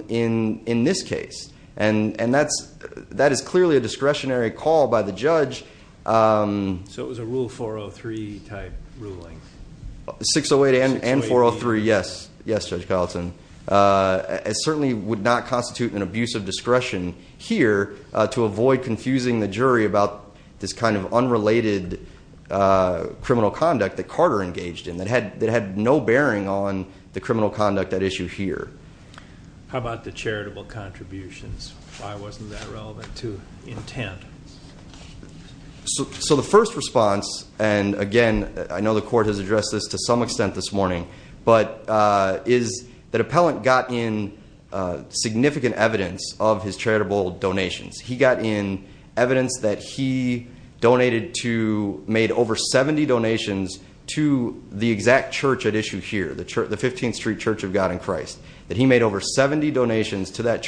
in, in this case. And, and that's, that is clearly a discretionary call by the judge. So it was a Rule 403 type ruling? 608 and, and 403, yes. Yes, Judge Carlson. It certainly would not constitute an abuse of discretion here to avoid confusing the jury about this kind of unrelated criminal conduct that Carter engaged in that had, that had no bearing on the criminal conduct at issue here. How about the charitable contributions? Why wasn't that relevant to intent? So the first response, and again, I know the court has addressed this to some extent this morning, but is that appellant got in significant evidence of his charitable donations. He got in evidence that he donated to, made over 70 donations to the exact church at issue here, the church, the 15th Street Church of God in Christ, that he made over 70 donations to that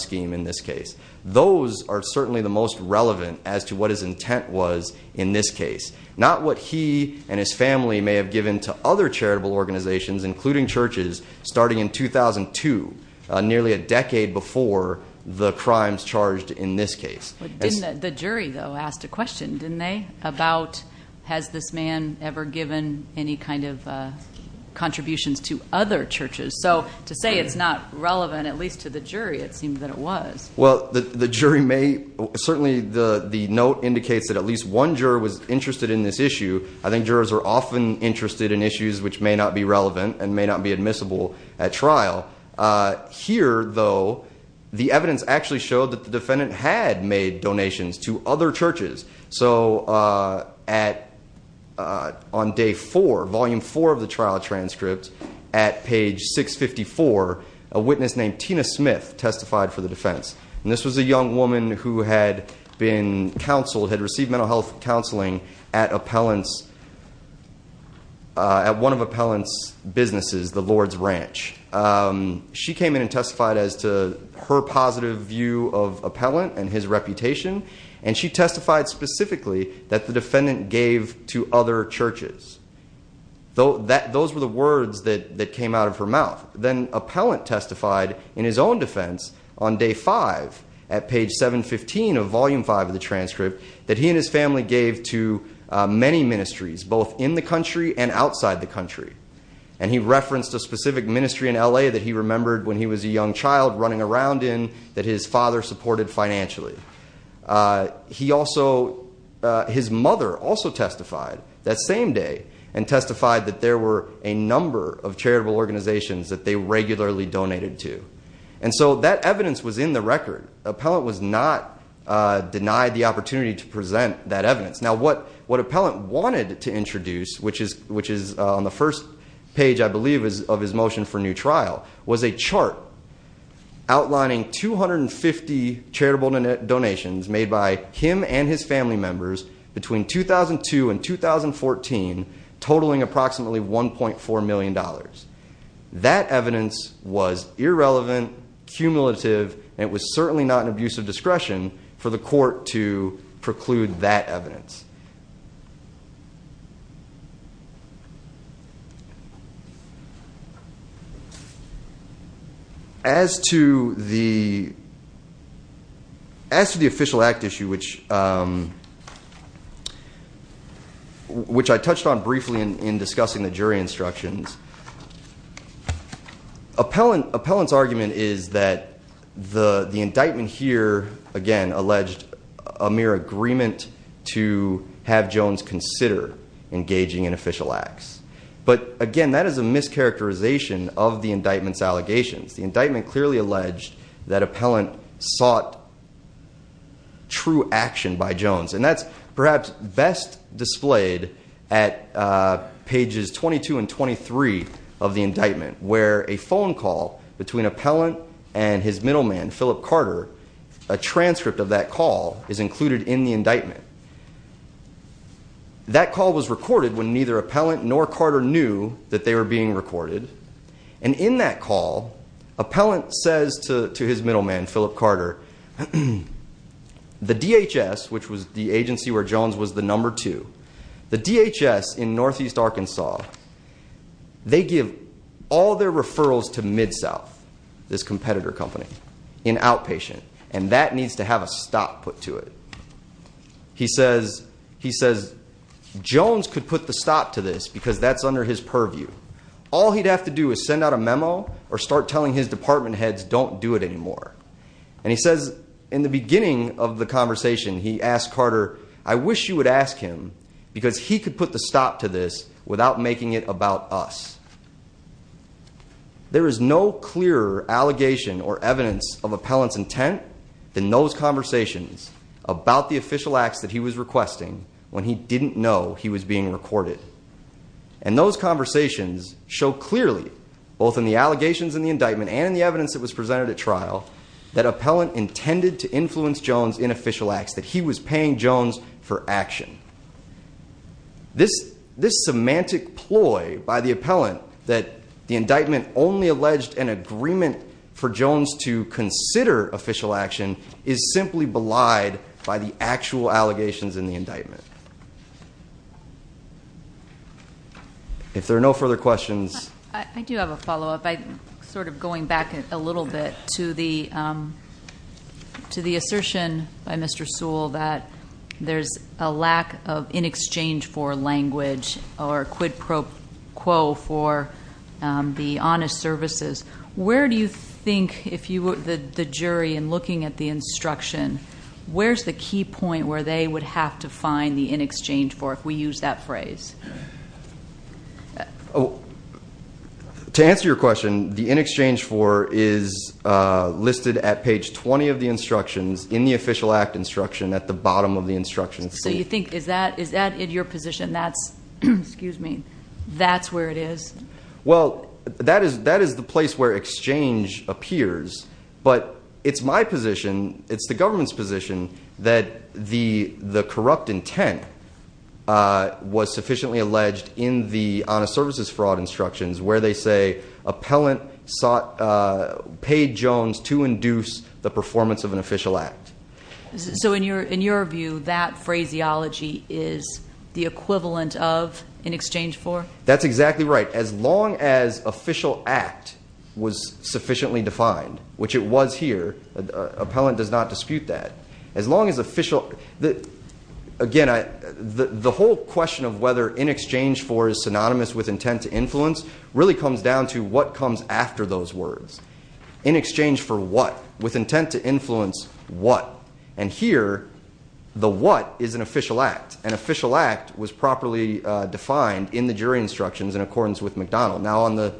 scheme in this case. Those are certainly the most relevant as to what his intent was in this case. Not what he and his family may have given to other charitable organizations, including churches, starting in 2002, nearly a decade before the crimes charged in this case. Didn't the jury though, asked a question, didn't they, about has this man ever given any kind of contributions to other churches? So to say it's not relevant, at least to the jury, it seemed that it was. Well, the jury may certainly, the note indicates that at least one juror was interested in this issue. I think jurors are often interested in issues which may not be relevant and may not be admissible at trial. Here though, the evidence actually showed that the defendant had made donations to other churches. So on day four, volume four of the trial transcript, at page 654, a witness named Tina Smith testified for the defense. And this was a young woman who had been counseled, had received mental health counseling at one of Appellant's businesses, the Lord's Ranch. She came in and testified as to her positive view of reputation, and she testified specifically that the defendant gave to other churches. Those were the words that came out of her mouth. Then Appellant testified in his own defense on day five, at page 715 of volume five of the transcript, that he and his family gave to many ministries, both in the country and outside the country. And he referenced a specific ministry in L.A. that he remembered when he was a young child running around in that his father supported financially. His mother also testified that same day and testified that there were a number of charitable organizations that they regularly donated to. And so that evidence was in the record. Appellant was not denied the opportunity to present that evidence. Now what Appellant wanted to introduce, which is on the first page, I believe, of his motion for new trial, was a chart outlining 250 charitable donations made by him and his family members between 2002 and 2014, totaling approximately $1.4 million. That evidence was irrelevant, cumulative, and it was certainly not an abuse of discretion for the court to preclude that evidence. As to the official act issue, which I touched on briefly in discussing the jury instructions, Appellant's argument is that the indictment here, again, alleged a mere agreement to have Jones consider engaging in official acts. But again, that is a mischaracterization of the indictment's allegations. The indictment clearly alleged that Appellant sought true action by Jones, and that's perhaps best displayed at pages 22 and 23 of the indictment, where a phone call between Appellant and his middleman, Philip Carter, a transcript of that call is included in the indictment. That call was recorded when neither Appellant nor Carter knew that they were being recorded. And in that call, Appellant says to his middleman, Philip Carter, the DHS, which was the agency where Jones was the number two, the DHS in northeast Arkansas, they give all their referrals to MidSouth, this competitor company, in outpatient, and that needs to have a stop put to it. He says, Jones could put the stop to this because that's under his purview. All he'd have to do is send out a memo or start telling his department heads, don't do it anymore. And he says, in the beginning of the conversation, he asked Carter, I wish you would ask him because he could put the stop to this without making it about us. There is no clearer allegation or evidence of Appellant's intent than those conversations about the official acts that he was requesting when he didn't know he was being recorded. And those conversations show clearly, both in the allegations in the indictment and in the evidence that was presented at trial, that Appellant intended to influence Jones in official acts, that he was paying Jones for action. This semantic ploy by the Appellant that the indictment only alleged an agreement for Jones to consider official action is simply belied by the actual allegations in the indictment. If there are no further questions. I do have a follow up. Sort of going back a little bit to the assertion by Mr. Sewell that there's a lack of in exchange for language or quid pro quo for the honest services. Where do you think, if you were the jury and looking at the instruction, where's the key point where they would have to find the in exchange for, if we use that phrase? To answer your question, the in exchange for is listed at page 20 of the instructions in official act instruction at the bottom of the instructions. So you think, is that in your position? That's where it is? Well, that is the place where exchange appears. But it's my position, it's the government's position that the corrupt intent was sufficiently alleged in the honest services fraud instructions where they say Appellant paid Jones to induce the performance of an official act. So in your view, that phraseology is the equivalent of in exchange for? That's exactly right. As long as official act was sufficiently defined, which it was here, Appellant does not dispute that. As long as official, again, the whole question of whether in exchange for is synonymous with intent to influence really comes down to what comes after those words. In exchange for what? With intent to influence what? And here, the what is an official act. An official act was properly defined in the jury instructions in accordance with McDonald. Now on the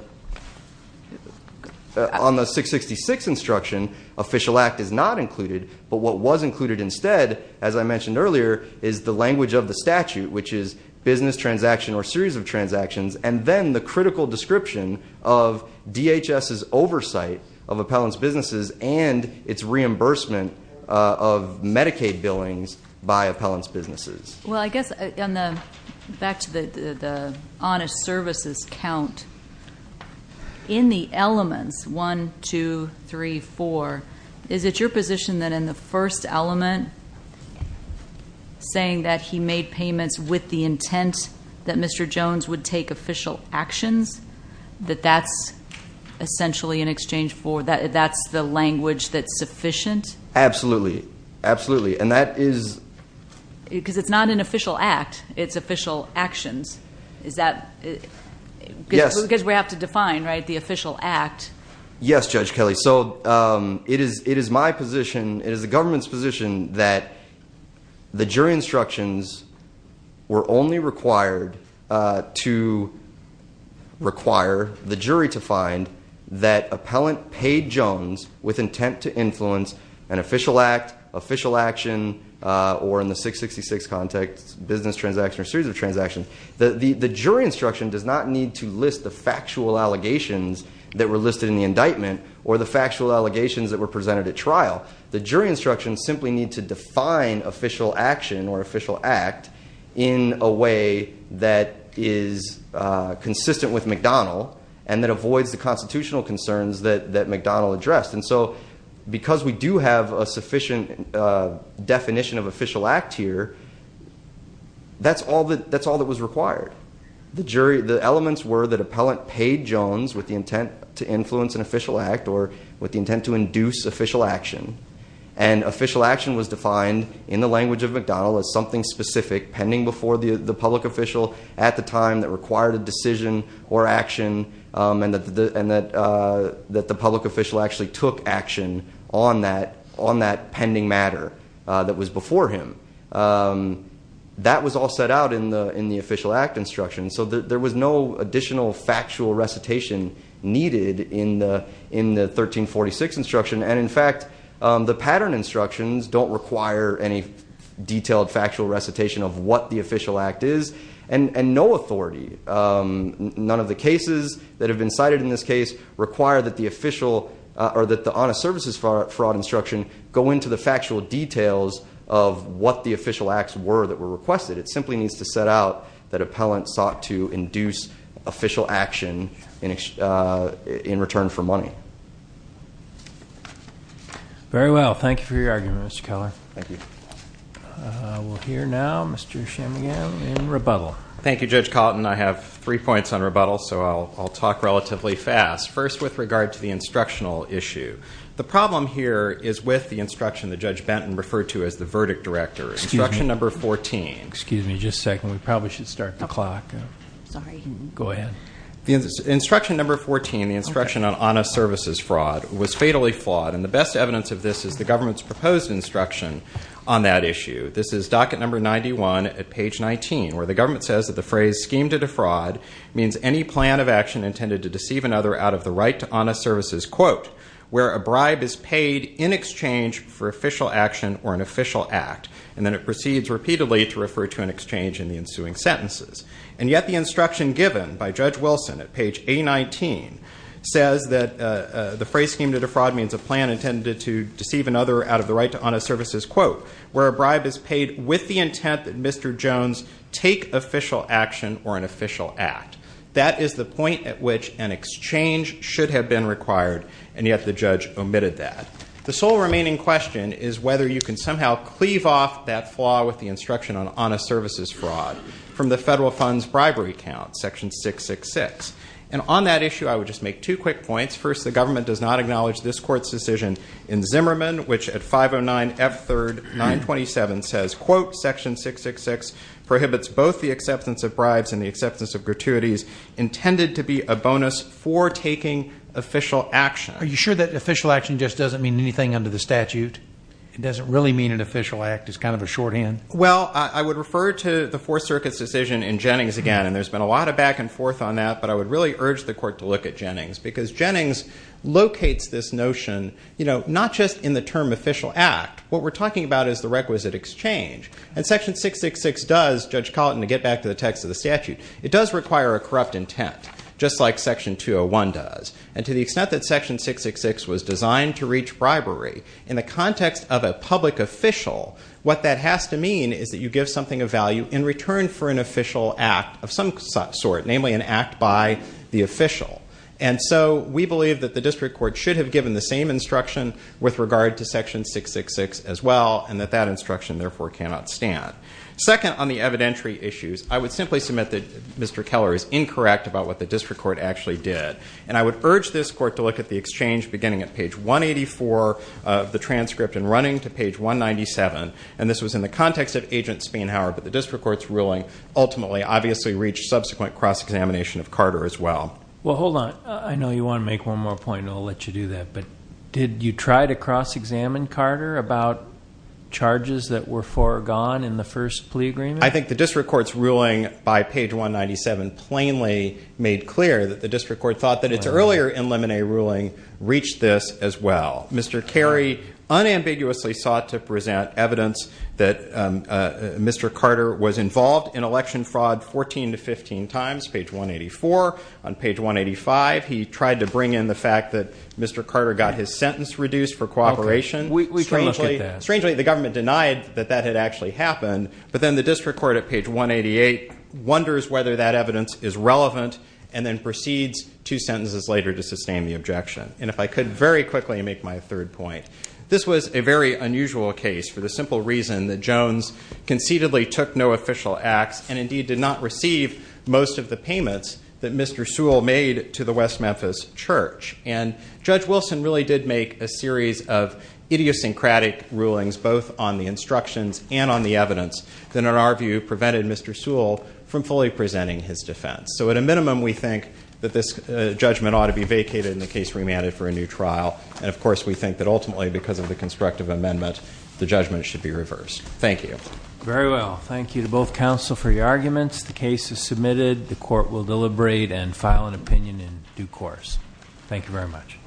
666 instruction, official act is not included. But what was included instead, as I mentioned earlier, is the language of the statute, which is business transaction or series of transactions, and then the critical description of DHS's oversight of Appellant's businesses and its reimbursement of Medicaid billings by Appellant's businesses. Well, I guess back to the honest services count, in the elements 1, 2, 3, 4, is it your position that in the first element, saying that he made payments with the intent that Mr. Jones would take official actions, that that's essentially in exchange for, that's the language that's sufficient? Absolutely. Absolutely. And that is- Because it's not an official act. It's official actions. Is that- Yes. Because we have to define, right, the official act. Yes, Judge Kelly. So it is my position, it is the government's position that the jury instructions were only required to require the jury to find that Appellant paid Jones with intent to influence an official act, official action, or in the 666 context, business transaction or series of transactions. The jury instruction does not need to list the indictment or the factual allegations that were presented at trial. The jury instructions simply need to define official action or official act in a way that is consistent with McDonnell and that avoids the constitutional concerns that McDonnell addressed. And so because we do have a sufficient definition of official act here, that's all that was required. The elements were that Appellant paid Jones with the intent to influence an official act or with the intent to induce official action. And official action was defined in the language of McDonnell as something specific pending before the public official at the time that required a decision or action and that the public official actually took action on that pending matter that was before him. That was all set out in the in the 1346 instruction. And in fact, the pattern instructions don't require any detailed factual recitation of what the official act is and no authority. None of the cases that have been cited in this case require that the official or that the honest services fraud instruction go into the factual details of what the official acts were that were requested. It simply needs to set out that Appellant sought to induce official action in return for money. Very well. Thank you for your argument, Mr. Keller. Thank you. We'll hear now Mr. Chamigan in rebuttal. Thank you, Judge Cotton. I have three points on rebuttal, so I'll talk relatively fast. First, with regard to the instructional issue. The problem here is with the instruction that Judge Benton referred to as the verdict director. Instruction number 14. Excuse me just a second. We probably should start the clock. Sorry. Go ahead. The instruction number 14, the instruction on honest services fraud, was fatally flawed. And the best evidence of this is the government's proposed instruction on that issue. This is docket number 91 at page 19, where the government says that the phrase scheme to defraud means any plan of action intended to deceive another out of the right to honest services, quote, where a bribe is paid in exchange for official action or an official act. And then it proceeds repeatedly to refer to an exchange in the ensuing sentences. And yet the instruction given by Judge Wilson at page A19 says that the phrase scheme to defraud means a plan intended to deceive another out of the right to honest services, quote, where a bribe is paid with the intent that Mr. Jones take official action or an official act. That is the point at which an exchange should have been required, and yet the judge omitted that. The sole remaining question is whether you can somehow cleave off that flaw with the instruction on honest services fraud from the federal funds bribery count, section 666. And on that issue, I would just make two quick points. First, the government does not acknowledge this court's decision in Zimmerman, which at 509 F3rd 927 says, quote, section 666 prohibits both the acceptance of bribes and the acceptance of gratuities intended to be a bonus for taking official action. Are you sure that official action just doesn't mean anything under the statute? It doesn't really mean an official act. It's kind of a shorthand? Well, I would refer to the Fourth Circuit's decision in Jennings again, and there's been a lot of back and forth on that. But I would really urge the court to look at Jennings, because Jennings locates this notion, you know, not just in the term official act. What we're talking about is the requisite exchange. And section 666 does, Judge Colleton, to get back to the text of the statute, it does require a corrupt intent, just like section 201 does. And to the extent that section 666 was designed to reach bribery in the context of a public official, what that has to mean is that you give something of value in return for an official act of some sort, namely an act by the official. And so we believe that the district court should have given the same instruction with regard to section 666 as well, and that that instruction therefore cannot stand. Second, on the evidentiary issues, I would simply submit that Mr. Keller is incorrect about what the district court actually did. And I would urge this court to look at the exchange beginning at page 184 of the transcript and running to page 197. And this was in the context of Agent Spienhower, but the district court's ruling ultimately obviously reached subsequent cross-examination of Carter as well. Well, hold on. I know you want to make one more point, and I'll let you do that. But did you try to cross-examine Carter about charges that were foregone in the first plea agreement? I think the district court's ruling by page 197 plainly made clear that the district court thought that its earlier in limine ruling reached this as well. Mr. Carey unambiguously sought to present evidence that Mr. Carter was involved in election fraud 14 to 15 times, page 184. On page 185, he tried to bring in the fact that Mr. Carter got his sentence reduced for cooperation. Okay. We cannot get that. Strangely, the government denied that that had actually happened, but then the district court at page 188 wonders whether that evidence is relevant and then proceeds two sentences later to sustain the objection. And if I could very quickly make my third point. This was a very unusual case for the simple reason that Jones conceitedly took no official acts and indeed did not receive most of the payments that Mr. Sewell made to the West Memphis Church. And Judge Wilson really did make a series of idiosyncratic rulings both on the instructions and on the evidence that in our view prevented Mr. Sewell from fully presenting his defense. So at a minimum, we think that this judgment ought to be vacated and the case remanded for a new trial. And of course, we think that ultimately because of the constructive amendment, the judgment should be reversed. Thank you. Very well. Thank you to both counsel for your arguments. The case is submitted. The court will deliberate and file an opinion in due course. Thank you very much.